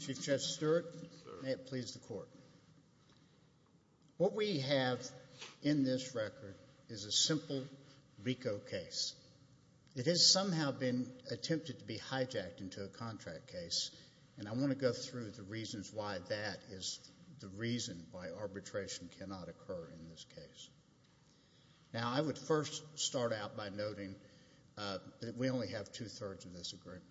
Chief Justice Stewart, may it please the Court. What we have in this record is a simple RICO case. It has somehow been attempted to be hijacked into a contract case, and I want to go through the reasons why that is the reason why arbitration cannot occur in this case. Now, I would first start out by noting that we only have two-thirds of this agreement.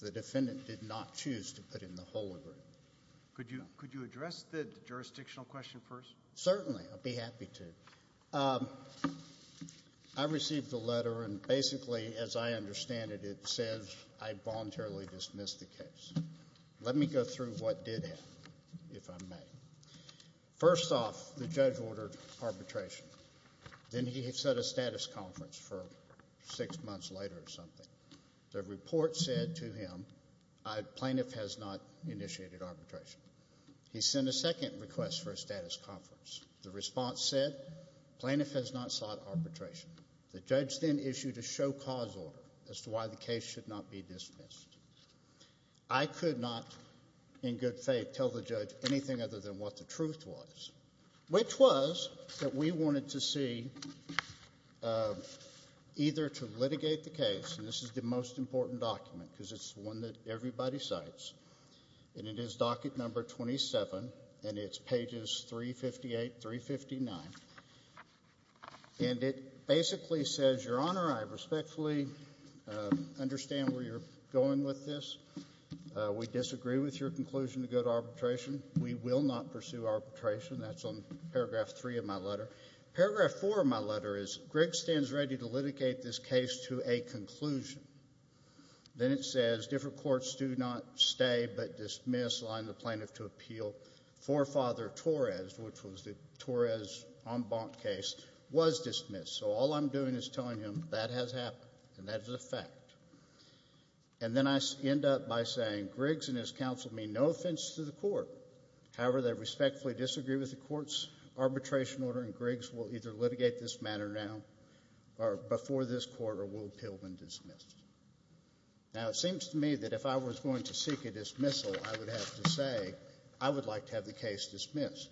The defendant did not choose to put in the whole agreement. Could you address the jurisdictional question first? Certainly. I'd be happy to. I received a letter, and basically, as I understand it, it says I voluntarily dismissed the case. Let me go through what did happen, if I may. First off, the judge ordered arbitration, then he set a status conference for six months later or something. The report said to him, a plaintiff has not initiated arbitration. He sent a second request for a status conference. The response said, plaintiff has not sought arbitration. The judge then issued a show-cause order as to why the case should not be dismissed. I could not, in good faith, tell the judge anything other than what the truth was, which was that we wanted to see either to litigate the case, and this is the most important document because it's the one that everybody cites, and it is docket number 27, and it's pages 358, 359, and it basically says, Your Honor, I respectfully understand where you're going with this. We disagree with your conclusion to go to arbitration. We will not pursue arbitration. That's on paragraph three of my letter. Paragraph four of my letter is, Greg stands ready to litigate this case to a conclusion. Then it says, different courts do not stay but dismiss, allowing the plaintiff to appeal. Forefather Torres, which was the Torres en banc case, was dismissed, so all I'm doing is telling him that has happened, and that is a fact. And then I end up by saying, Griggs and his counsel mean no offense to the court. However, they respectfully disagree with the court's arbitration order, and Griggs will either litigate this matter now or before this court, or we'll appeal and dismiss. Now, it seems to me that if I was going to seek a dismissal, I would have to say, I would like to have the case dismissed,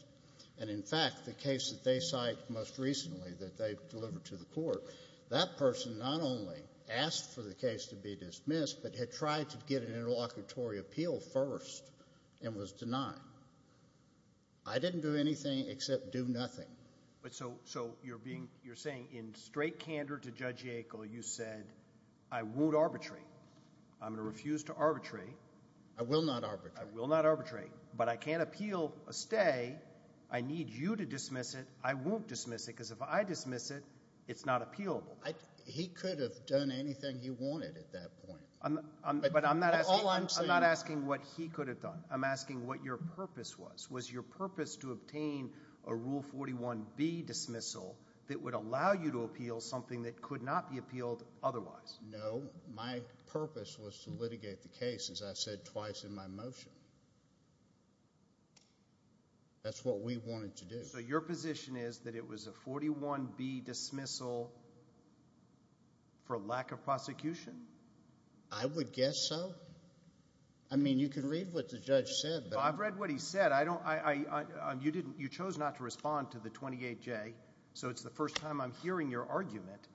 and in fact, the case that they cite most recently that they've delivered to the court, that person not only asked for the case to be dismissed, but had tried to get an interlocutory appeal first and was denied. I didn't do anything except do nothing. So you're saying in straight candor to Judge Yackel, you said, I won't arbitrate. I'm going to refuse to arbitrate. I will not arbitrate. I will not arbitrate, but I can't appeal a stay. I need you to dismiss it. I won't dismiss it, because if I dismiss it, it's not appealable. He could have done anything he wanted at that point. But all I'm saying is... I'm not asking what he could have done. I'm asking what your purpose was. Was your purpose to obtain a Rule 41B dismissal that would allow you to appeal something that could not be appealed otherwise? No. My purpose was to litigate the case, as I said twice in my motion. That's what we wanted to do. So your position is that it was a 41B dismissal for lack of prosecution? I would guess so. I mean, you can read what the judge said, but... I've read what he said. You chose not to respond to the 28J, so it's the first time I'm hearing your argument.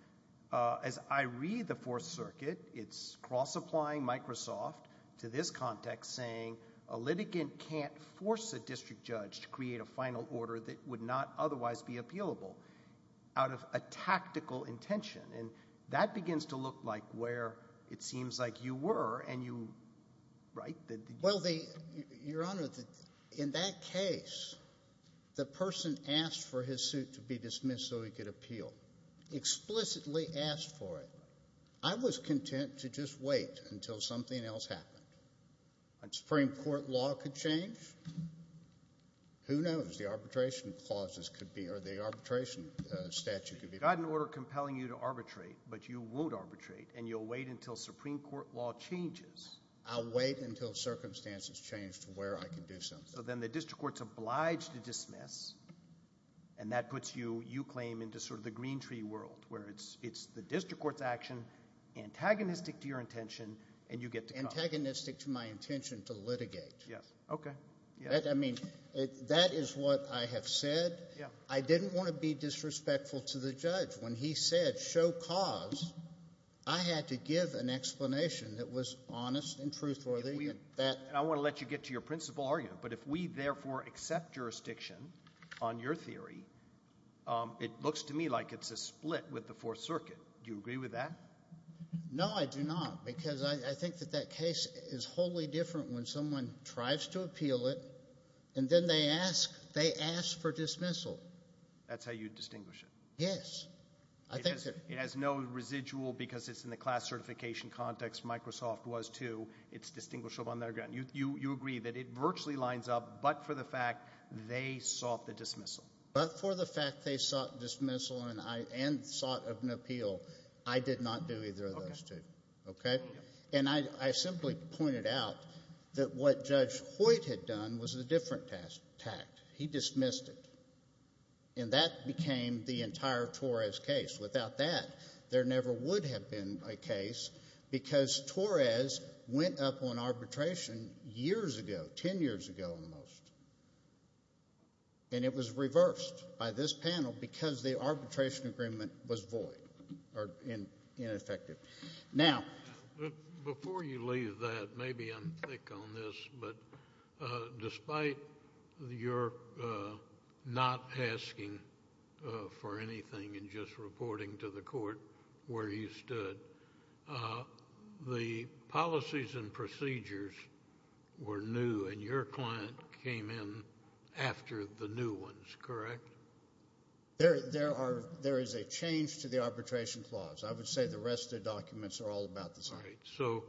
As I read the Fourth Circuit, it's cross-applying Microsoft to this context, saying a litigant can't force a district judge to create a final order that would not otherwise be appealable out of a tactical intention. And that begins to look like where it seems like you were, and you... right? Well, Your Honor, in that case, the person asked for his suit to be dismissed so he could appeal, explicitly asked for it. I was content to just wait until something else happened. A Supreme Court law could change? Who knows? The arbitration clauses could be... or the arbitration statute could be... You've got an order compelling you to arbitrate, but you won't arbitrate, and you'll wait until Supreme Court law changes. I'll wait until circumstances change to where I can do something. So then the district court's obliged to dismiss, and that puts you, you claim, into sort of the green tree world, where it's the district court's action, antagonistic to your intention, and you get to come. It's antagonistic to my intention to litigate. Yes. Okay. I mean, that is what I have said. I didn't want to be disrespectful to the judge. When he said, show cause, I had to give an explanation that was honest and truthful. I want to let you get to your principal argument, but if we, therefore, accept jurisdiction on your theory, it looks to me like it's a split with the Fourth Circuit. Do you agree with that? No, I do not. No, I do not, because I think that that case is wholly different when someone tries to appeal it, and then they ask, they ask for dismissal. That's how you distinguish it. Yes. I think that... It has no residual, because it's in the class certification context, Microsoft was, too. It's distinguishable on their ground. You agree that it virtually lines up, but for the fact they sought the dismissal. But for the fact they sought dismissal and sought of an appeal, I did not do either of those two. Okay? And I simply pointed out that what Judge Hoyt had done was a different tact. He dismissed it, and that became the entire Torres case. Without that, there never would have been a case, because Torres went up on arbitration years ago, ten years ago at most, and it was reversed by this panel because the arbitration agreement was void, or ineffective. Now... Before you leave that, maybe I'm thick on this, but despite your not asking for anything and just reporting to the court where you stood, the policies and procedures were new, and your client came in after the new ones, correct? There is a change to the arbitration clause. I would say the rest of the documents are all about the same. Right. So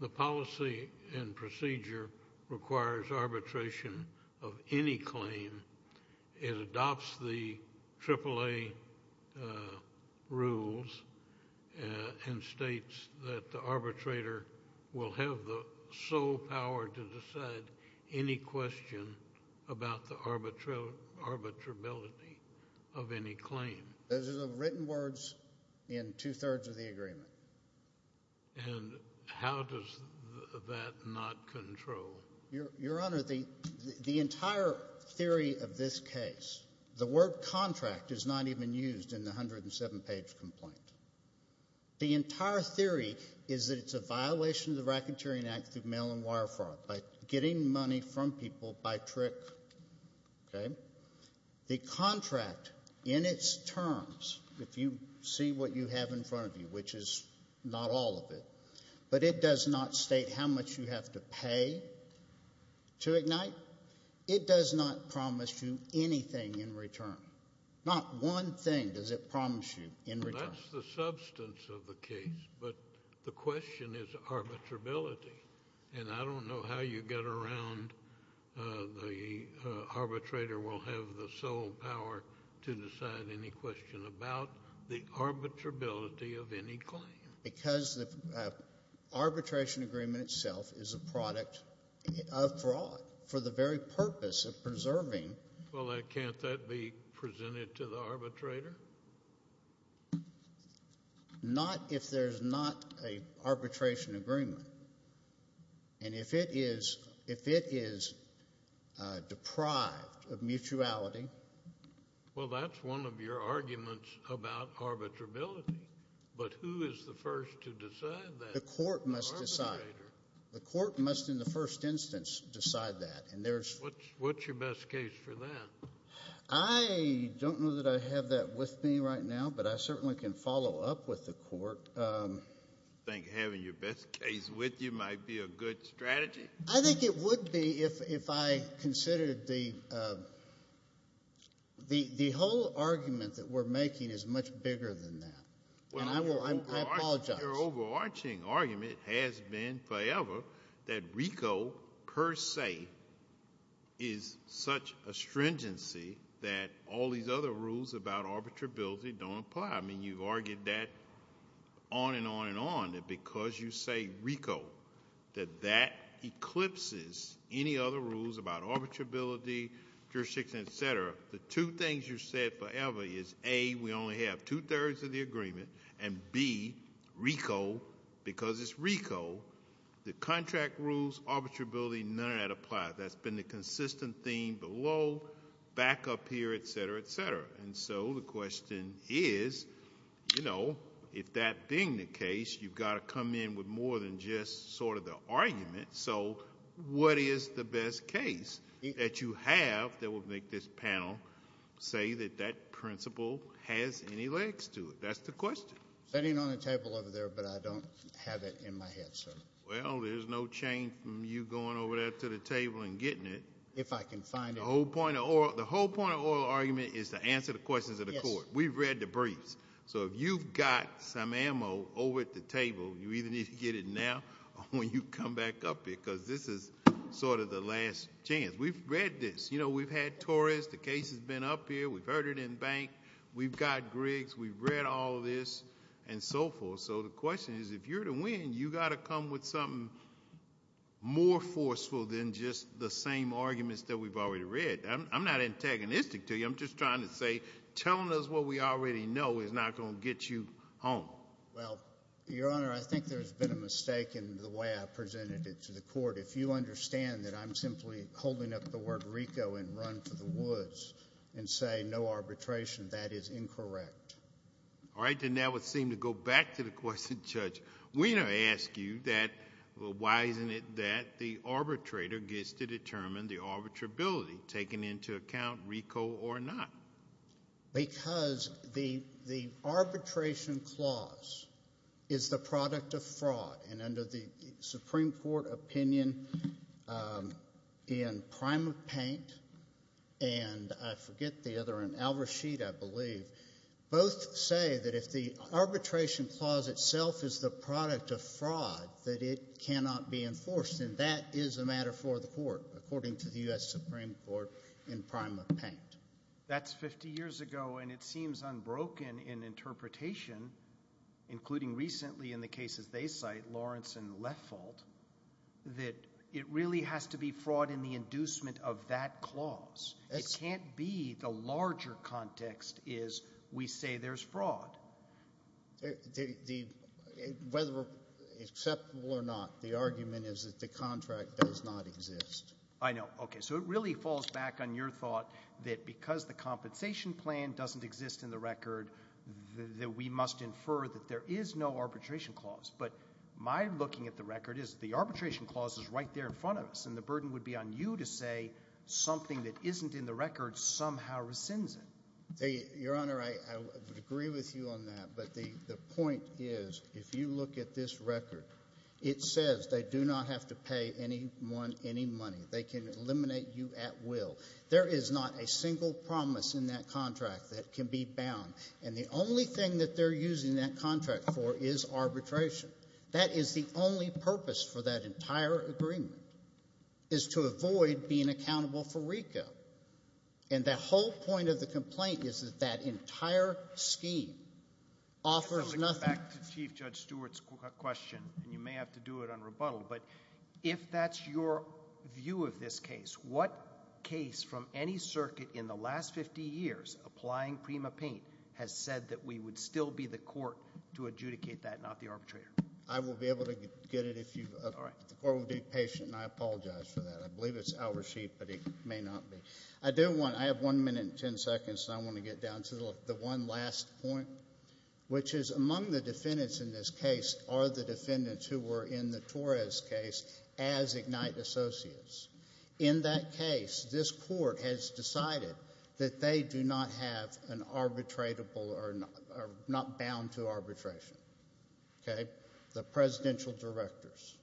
the policy and procedure requires arbitration of any claim. It adopts the AAA rules and states that the arbitrator will have the sole power to decide any question about the arbitrability of any claim. Those are the written words in two-thirds of the agreement. And how does that not control? Your Honor, the entire theory of this case, the word contract is not even used in the 107-page complaint. The entire theory is that it's a violation of the Racketeering Act through mail-and-wire fraud, by getting money from people by trick, okay? The contract, in its terms, if you see what you have in front of you, which is not all of it, but it does not state how much you have to pay to ignite, it does not promise you anything in return. Not one thing does it promise you in return. That's the substance of the case, but the question is arbitrability. And I don't know how you get around the arbitrator will have the sole power to decide any question about the arbitrability of any claim. Because the arbitration agreement itself is a product of fraud for the very purpose of preserving. Well, can't that be presented to the arbitrator? Not if there's not an arbitration agreement. And if it is deprived of mutuality. Well, that's one of your arguments about arbitrability. But who is the first to decide that? The court must decide. The court must, in the first instance, decide that. What's your best case for that? I don't know that I have that with me right now, but I certainly can follow up with the court. You think having your best case with you might be a good strategy? I think it would be if I considered the whole argument that we're making is much bigger than that. And I apologize. Well, your overarching argument has been forever that RICO per se is such a stringency that all these other rules about arbitrability don't apply. I mean, you've argued that on and on and on, that because you say RICO, that that eclipses any other rules about arbitrability, jurisdictions, et cetera. The two things you've said forever is, A, we only have two-thirds of the agreement, and B, RICO, because it's RICO, the contract rules, arbitrability, none of that applies. That's been the consistent theme below, back up here, et cetera, et cetera. And so the question is, you know, if that being the case, you've got to come in with more than just sort of the argument. So what is the best case that you have that will make this panel say that that principle has any legs to it? That's the question. Sitting on the table over there, but I don't have it in my head, sir. Well, there's no change from you going over there to the table and getting it. If I can find it. The whole point of oral argument is to answer the questions of the court. We've read the briefs. So if you've got some ammo over at the table, you either need to get it now or when you come back up here, because this is sort of the last chance. We've read this. You know, we've had Torres. The case has been up here. We've heard it in bank. We've got Griggs. We've read all of this and so forth. So the question is, if you're to win, you've got to come with something more forceful than just the same arguments that we've already read. I'm not antagonistic to you. I'm just trying to say, telling us what we already know is not going to get you home. Well, Your Honor, I think there's been a mistake in the way I presented it to the court. If you understand that I'm simply holding up the word RICO and run for the woods and say no arbitration, that is incorrect. All right. Then that would seem to go back to the question, Judge. Weiner asked you that, well, why isn't it that the arbitrator gets to determine the arbitrability, taking into account RICO or not? Because the arbitration clause is the product of fraud. And under the Supreme Court opinion in Prime of Paint and I forget the other, in Al-Rashid, I believe, both say that if the arbitration clause itself is the product of fraud, that it cannot be enforced. And that is a matter for the court, according to the U.S. Supreme Court in Prime of Paint. That's 50 years ago and it seems unbroken in interpretation, including recently in the cases they cite, Lawrence and Leffold, that it really has to be fraud in the inducement of that clause. It can't be the larger context is we say there's fraud. Whether acceptable or not, the argument is that the contract does not exist. I know. Okay. So it really falls back on your thought that because the compensation plan doesn't exist in the record, that we must infer that there is no arbitration clause. But my looking at the record is the arbitration clause is right there in front of us and the burden would be on you to say something that isn't in the record somehow rescinds it. Your Honor, I would agree with you on that, but the point is, if you look at this record, it says they do not have to pay anyone any money. They can eliminate you at will. There is not a single promise in that contract that can be bound. And the only thing that they're using that contract for is arbitration. That is the only purpose for that entire agreement, is to avoid being accountable for RICO. And the whole point of the complaint is that that entire scheme offers nothing. Back to Chief Judge Stewart's question, and you may have to do it on rebuttal, but if that's your view of this case, what case from any circuit in the last 50 years applying Prima Paint has said that we would still be the court to adjudicate that, not the arbitrator? I will be able to get it if you... All right. The court will be patient. I apologize for that. I believe it's our sheet, but it may not be. I do want... I have one minute and ten seconds, so I want to get down to the one last point, which is among the defendants in this case are the defendants who were in the Torres case as Ignite associates. In that case, this court has decided that they do not have an arbitratable or not bound to arbitration, okay? The presidential directors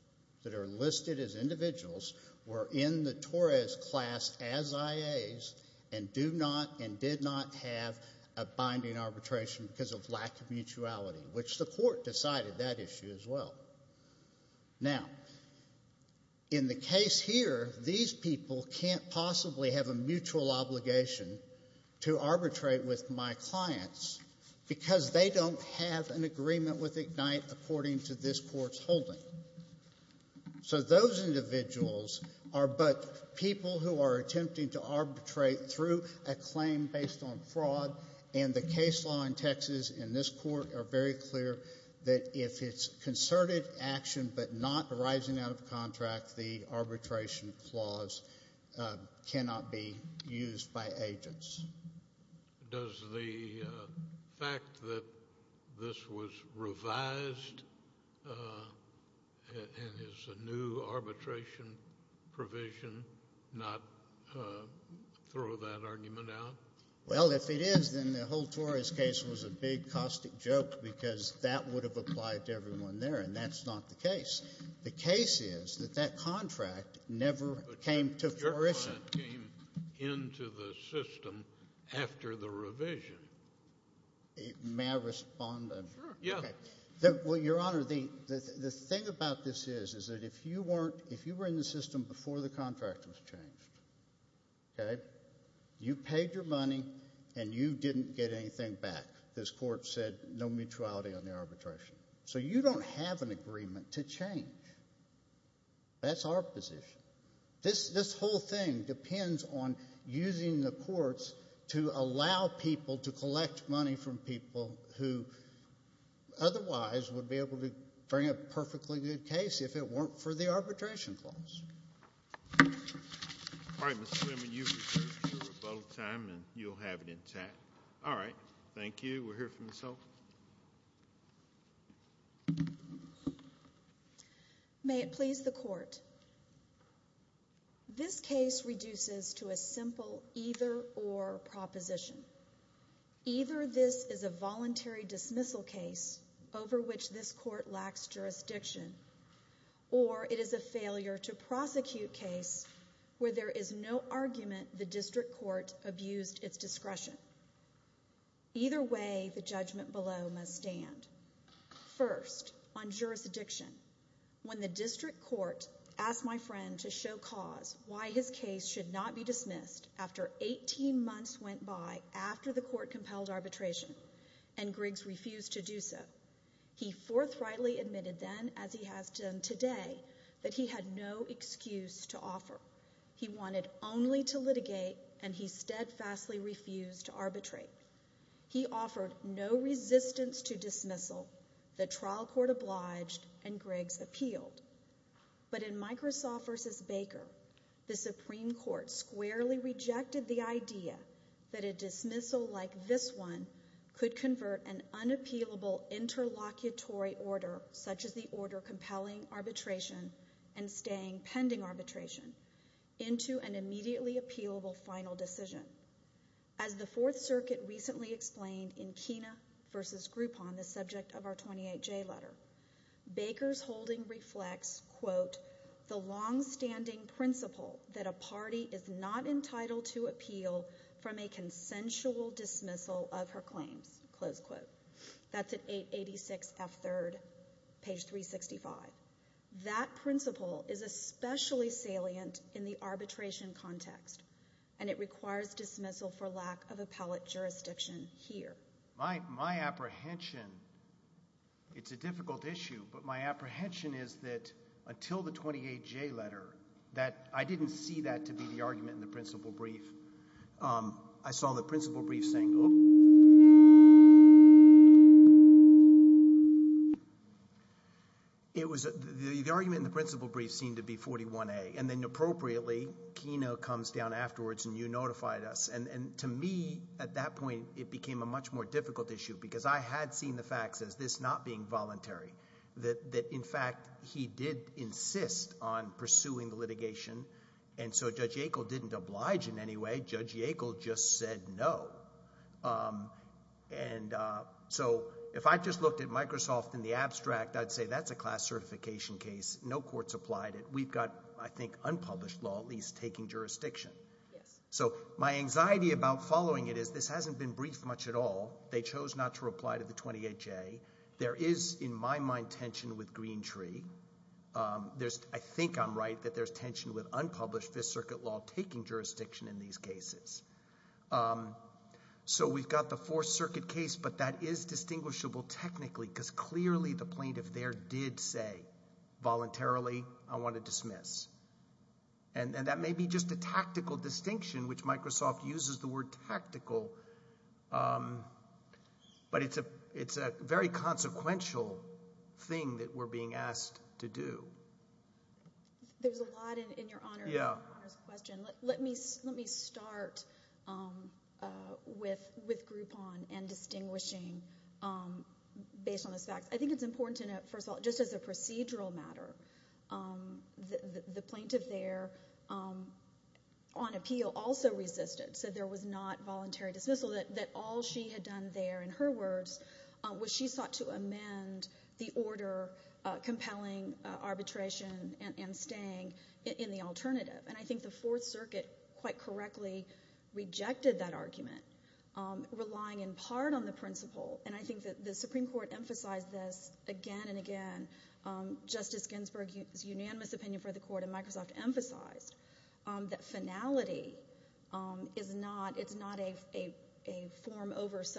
that are listed as individuals were in the Torres class as IAs and do not and did not have a binding arbitration because of lack of mutuality, which the court decided that issue as well. Now, in the case here, these people can't possibly have a mutual obligation to arbitrate with my clients because they don't have an agreement with Ignite according to this court's holding. So those individuals are but people who are attempting to arbitrate through a claim based on fraud, and the case law in Texas and this court are very clear that if it's concerted action but not arising out of contract, the arbitration clause cannot be used by agents. Does the fact that this was revised and is a new arbitration provision not throw that argument out? Well, if it is, then the whole Torres case was a big caustic joke because that would have applied to everyone there, and that's not the case. The case is that that contract never came to fruition. But your client came into the system after the revision. May I respond? Sure. Yeah. Okay. Well, Your Honor, the thing about this is, is that if you weren't, if you were in the and you didn't get anything back, this court said no mutuality on the arbitration. So you don't have an agreement to change. That's our position. This whole thing depends on using the courts to allow people to collect money from people who otherwise would be able to bring a perfectly good case if it weren't for the arbitration clause. All right, Mr. Freeman, you've reserved your rebuttal time, and you'll have it intact. All right. Thank you. We'll hear from Ms. Holtz. May it please the court. This case reduces to a simple either or proposition. Either this is a voluntary dismissal case over which this court lacks jurisdiction, or it is a failure to prosecute case where there is no argument the district court abused its discretion. Either way, the judgment below must stand. First, on jurisdiction, when the district court asked my friend to show cause why his case should not be dismissed after 18 months went by after the court compelled arbitration and Griggs refused to do so. He forthrightly admitted then, as he has done today, that he had no excuse to offer. He wanted only to litigate, and he steadfastly refused to arbitrate. He offered no resistance to dismissal. The trial court obliged, and Griggs appealed. But in Microsoft v. Baker, the Supreme Court squarely rejected the idea that a dismissal like this one could convert an unappealable interlocutory order, such as the order compelling arbitration and staying pending arbitration, into an immediately appealable final decision. As the Fourth Circuit recently explained in Kena v. Groupon, the subject of our 28J letter, Baker's holding reflects, quote, the longstanding principle that a party is not entitled to dismissal of her claims, close quote. That's at 886 F. 3rd, page 365. That principle is especially salient in the arbitration context, and it requires dismissal for lack of appellate jurisdiction here. My apprehension, it's a difficult issue, but my apprehension is that until the 28J letter, that I didn't see that to be the argument in the principle brief. I saw the principle brief saying, oh. It was, the argument in the principle brief seemed to be 41A, and then appropriately, Kena comes down afterwards, and you notified us, and to me, at that point, it became a much more difficult issue, because I had seen the facts as this not being voluntary, that in fact, he did insist on pursuing the litigation. And so Judge Yackel didn't oblige in any way. Judge Yackel just said no. And so if I just looked at Microsoft in the abstract, I'd say that's a class certification case. No court's applied it. We've got, I think, unpublished law at least taking jurisdiction. So my anxiety about following it is this hasn't been briefed much at all. They chose not to reply to the 28J. There is, in my mind, tension with Greentree. There's, I think I'm right that there's tension with unpublished Fifth Circuit law taking jurisdiction in these cases. So we've got the Fourth Circuit case, but that is distinguishable technically, because clearly the plaintiff there did say, voluntarily, I want to dismiss. And that may be just a tactical distinction, which Microsoft uses the word tactical, but it's a very consequential thing that we're being asked to do. There's a lot in your Honor's question. Let me start with Groupon and distinguishing based on those facts. I think it's important to note, first of all, just as a procedural matter, the plaintiff there on appeal also resisted, said there was not voluntary dismissal, that all she had done there, in her words, was she sought to amend the order compelling arbitration and staying in the alternative. And I think the Fourth Circuit quite correctly rejected that argument, relying in part on the principle. And I think that the Supreme Court emphasized this again and again, Justice Ginsburg's unanimous I think it's important to note that the plaintiff there on appeal also resisted, said there was not voluntary dismissal, that all she had done there, in her words,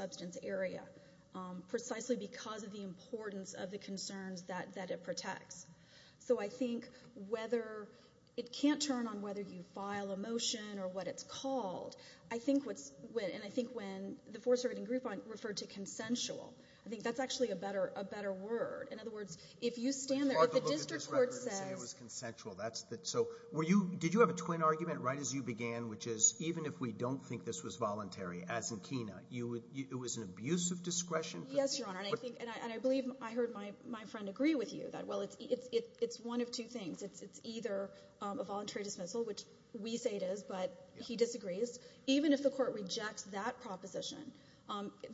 was she sought to have a discussion with the court. The court said, it was an abuse of discretion. Yes, your honor, and I believe I heard my friend agree with you. Well, it's one of two things. It's either a voluntary dismissal, which we say it is, but he disagrees. Even if the court rejects that proposition,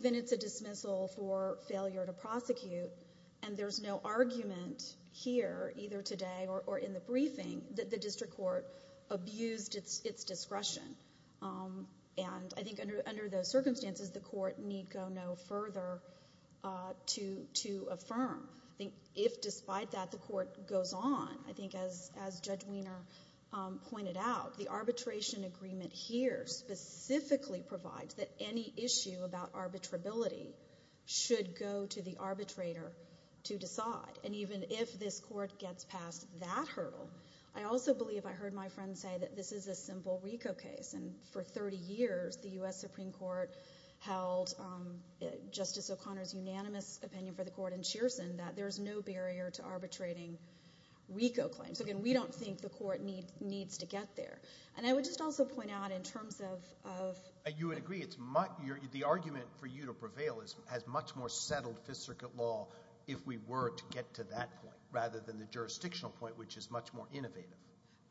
then it's a dismissal for failure to prosecute, and there's no argument here, either today or in the briefing, that the district court abused its discretion. And I think under those circumstances, the court need go no further to affirm. If despite that, the court goes on, I think as Judge Wiener pointed out, the arbitration agreement here specifically provides that any issue about arbitrability should go to the arbitrator to decide. And even if this court gets past that hurdle, I also believe I heard my friend say that this is a simple RICO case, and for 30 years, the U.S. Supreme Court held Justice O'Connor's unanimous opinion for the court in Cheerson that there's no barrier to arbitrating RICO claims. Again, we don't think the court needs to get there. And I would just also point out, in terms of— You would agree, the argument for you to prevail has much more settled Fifth Circuit law, if we were to get to that point, rather than the jurisdictional point, which is much more innovative.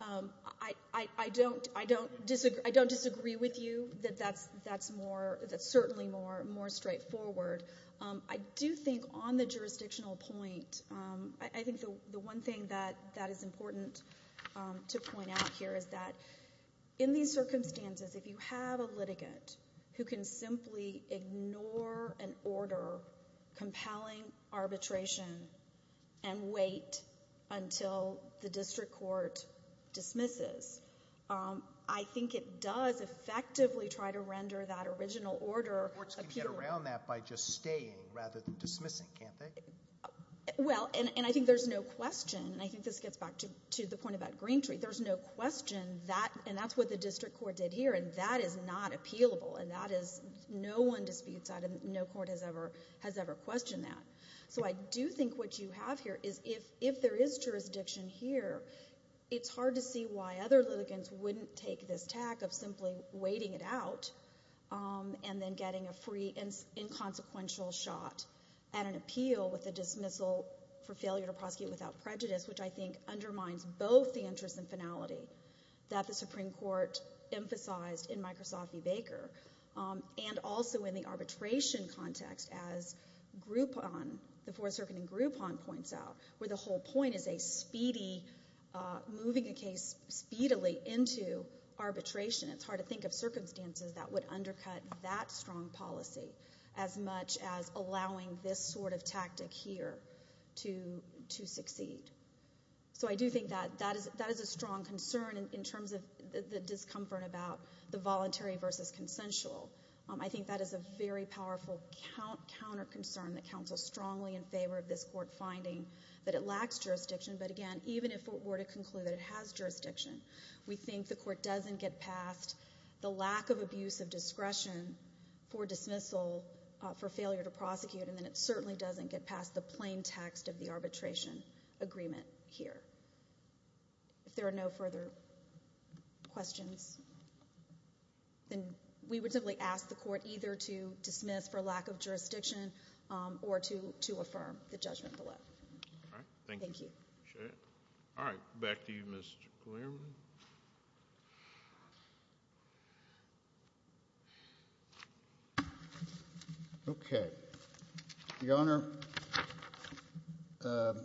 I don't disagree with you that that's more—that's certainly more straightforward. I do think on the jurisdictional point, I think the one thing that is important to point out here is that in these circumstances, if you have a litigant who can simply ignore an order compelling arbitration and wait until the district court dismisses, I think it does effectively try to render that original order appealable. Courts can get around that by just staying rather than dismissing, can't they? Well, and I think there's no question—and I think this gets back to the point about Green Tree—there's no question that—and that's what the district court did here, and that is not appealable, and that is—no one disputes that, and no court has ever questioned that. So I do think what you have here is, if there is jurisdiction here, it's hard to see why other litigants wouldn't take this tack of simply waiting it out and then getting a free and inconsequential shot at an appeal with a dismissal for failure to prosecute without prejudice, which I think undermines both the interest and finality that the Supreme Court emphasized in Microsoft v. Baker, and also in the arbitration context, as Groupon, the Fourth Circuit in Groupon, points out, where the whole point is a speedy—moving a case speedily into arbitration. It's hard to think of circumstances that would undercut that strong policy as much as allowing this sort of tactic here to succeed. So I do think that that is a strong concern in terms of the discomfort about the voluntary versus consensual. I think that is a very powerful counter-concern that counsels strongly in favor of this court finding that it lacks jurisdiction, but again, even if it were to conclude that it has jurisdiction, we think the court doesn't get past the lack of abuse of discretion for dismissal for failure to prosecute, and it certainly doesn't get past the plain text of the arbitration agreement here. If there are no further questions, then we would simply ask the court either to dismiss for lack of jurisdiction or to affirm the judgment below. Thank you. Thank you. All right. Back to you, Mr. Clearman. Okay. Your Honor, the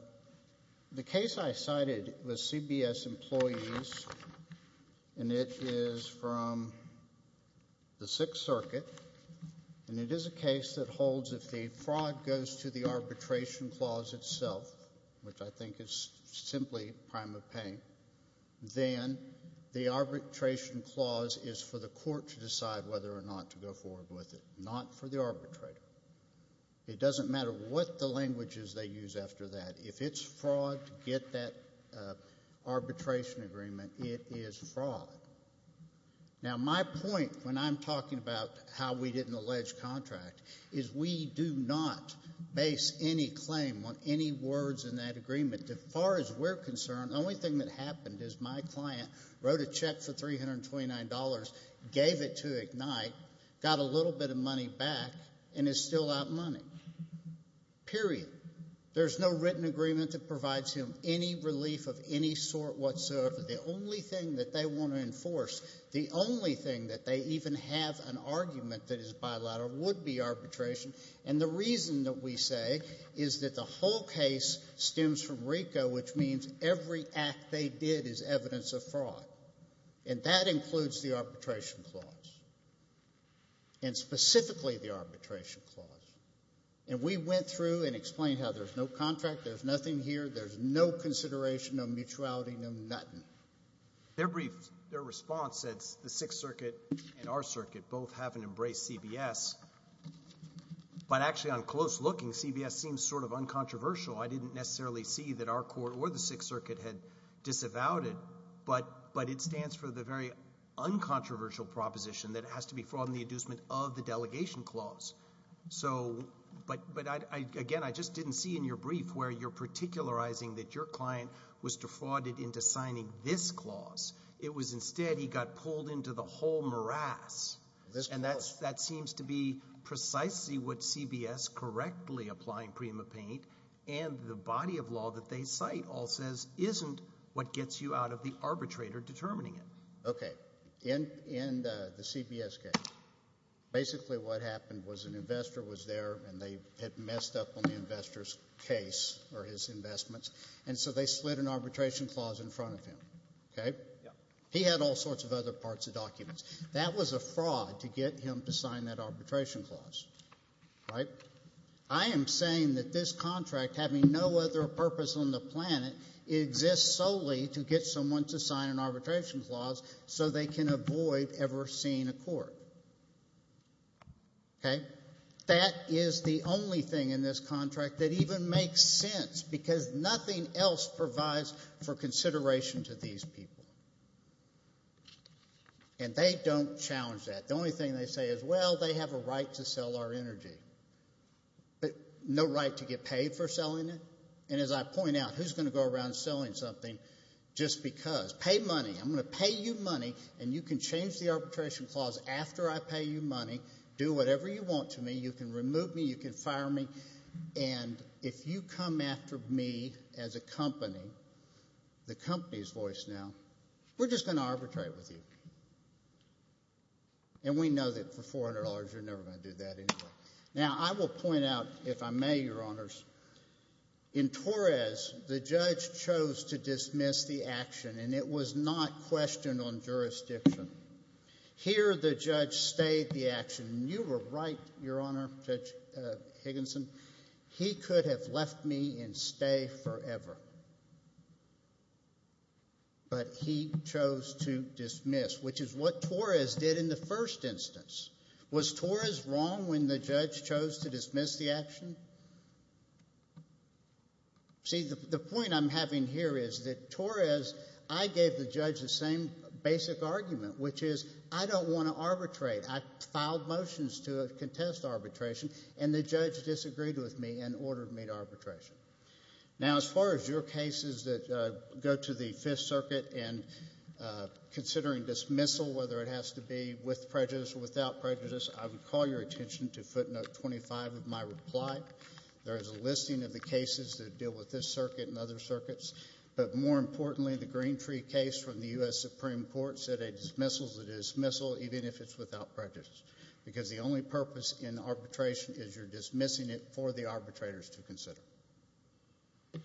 case I cited was CBS Employees, and it is from the Sixth Circuit, and it is a case that holds if the fraud goes to the arbitration clause itself, which I think is simply prime of pain, then the arbitration clause is for the court to decide whether or not to go forward with it, not for the arbitrator. It doesn't matter what the languages they use after that. If it's fraud to get that arbitration agreement, it is fraud. Now, my point when I'm talking about how we didn't allege contract is we do not base any claim on any words in that agreement. As far as we're concerned, the only thing that happened is my client wrote a check for $329, gave it to Ignite, got a little bit of money back, and is still out money, period. There's no written agreement that provides him any relief of any sort whatsoever. The only thing that they want to enforce, the only thing that they even have an argument that is bilateral would be arbitration, and the reason that we say is that the whole case stems from RICO, which means every act they did is evidence of fraud, and that includes the arbitration clause, and specifically the arbitration clause. And we went through and explained how there's no contract, there's nothing here, there's no consideration, no mutuality, no nothing. Their response says the Sixth Circuit and our circuit both haven't embraced CBS, but actually on close looking, CBS seems sort of uncontroversial. So I didn't necessarily see that our court or the Sixth Circuit had disavowed it, but it stands for the very uncontroversial proposition that it has to be fraud in the inducement of the delegation clause. So, but again, I just didn't see in your brief where you're particularizing that your client was defrauded into signing this clause. It was instead he got pulled into the whole morass, and that seems to be precisely what the body of law that they cite all says isn't what gets you out of the arbitrator determining it. Okay. In the CBS case, basically what happened was an investor was there and they had messed up on the investor's case or his investments, and so they slid an arbitration clause in front of him, okay? He had all sorts of other parts of documents. That was a fraud to get him to sign that arbitration clause, right? I am saying that this contract, having no other purpose on the planet, exists solely to get someone to sign an arbitration clause so they can avoid ever seeing a court, okay? That is the only thing in this contract that even makes sense because nothing else provides for consideration to these people, and they don't challenge that. The only thing they say is, well, they have a right to sell our energy, but no right to get paid for selling it, and as I point out, who's going to go around selling something just because? Pay money. I'm going to pay you money, and you can change the arbitration clause after I pay you money. Do whatever you want to me. You can remove me. You can fire me, and if you come after me as a company, the company's voice now, we're just going to arbitrate with you, and we know that for $400, you're never going to do that anyway. Now, I will point out, if I may, Your Honors, in Torres, the judge chose to dismiss the action, and it was not questioned on jurisdiction. Here the judge stayed the action, and you were right, Your Honor, Judge Higginson. He could have left me and stay forever, but he chose to dismiss, which is what Torres did in the first instance. Was Torres wrong when the judge chose to dismiss the action? See, the point I'm having here is that Torres, I gave the judge the same basic argument, which is, I don't want to arbitrate. I filed motions to contest arbitration, and the judge disagreed with me and ordered me to arbitration. Now, as far as your cases that go to the Fifth Circuit, and considering dismissal, whether it has to be with prejudice or without prejudice, I would call your attention to footnote 25 of my reply. There is a listing of the cases that deal with this circuit and other circuits, but more importantly, the Green Tree case from the U.S. Supreme Court said a dismissal is even if it's without prejudice, because the only purpose in arbitration is you're dismissing it for the arbitrators to consider. All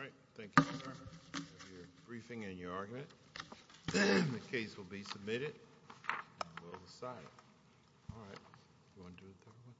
right. Thank you, sir. Here's your briefing and your argument. The case will be submitted, and we'll decide it. All right.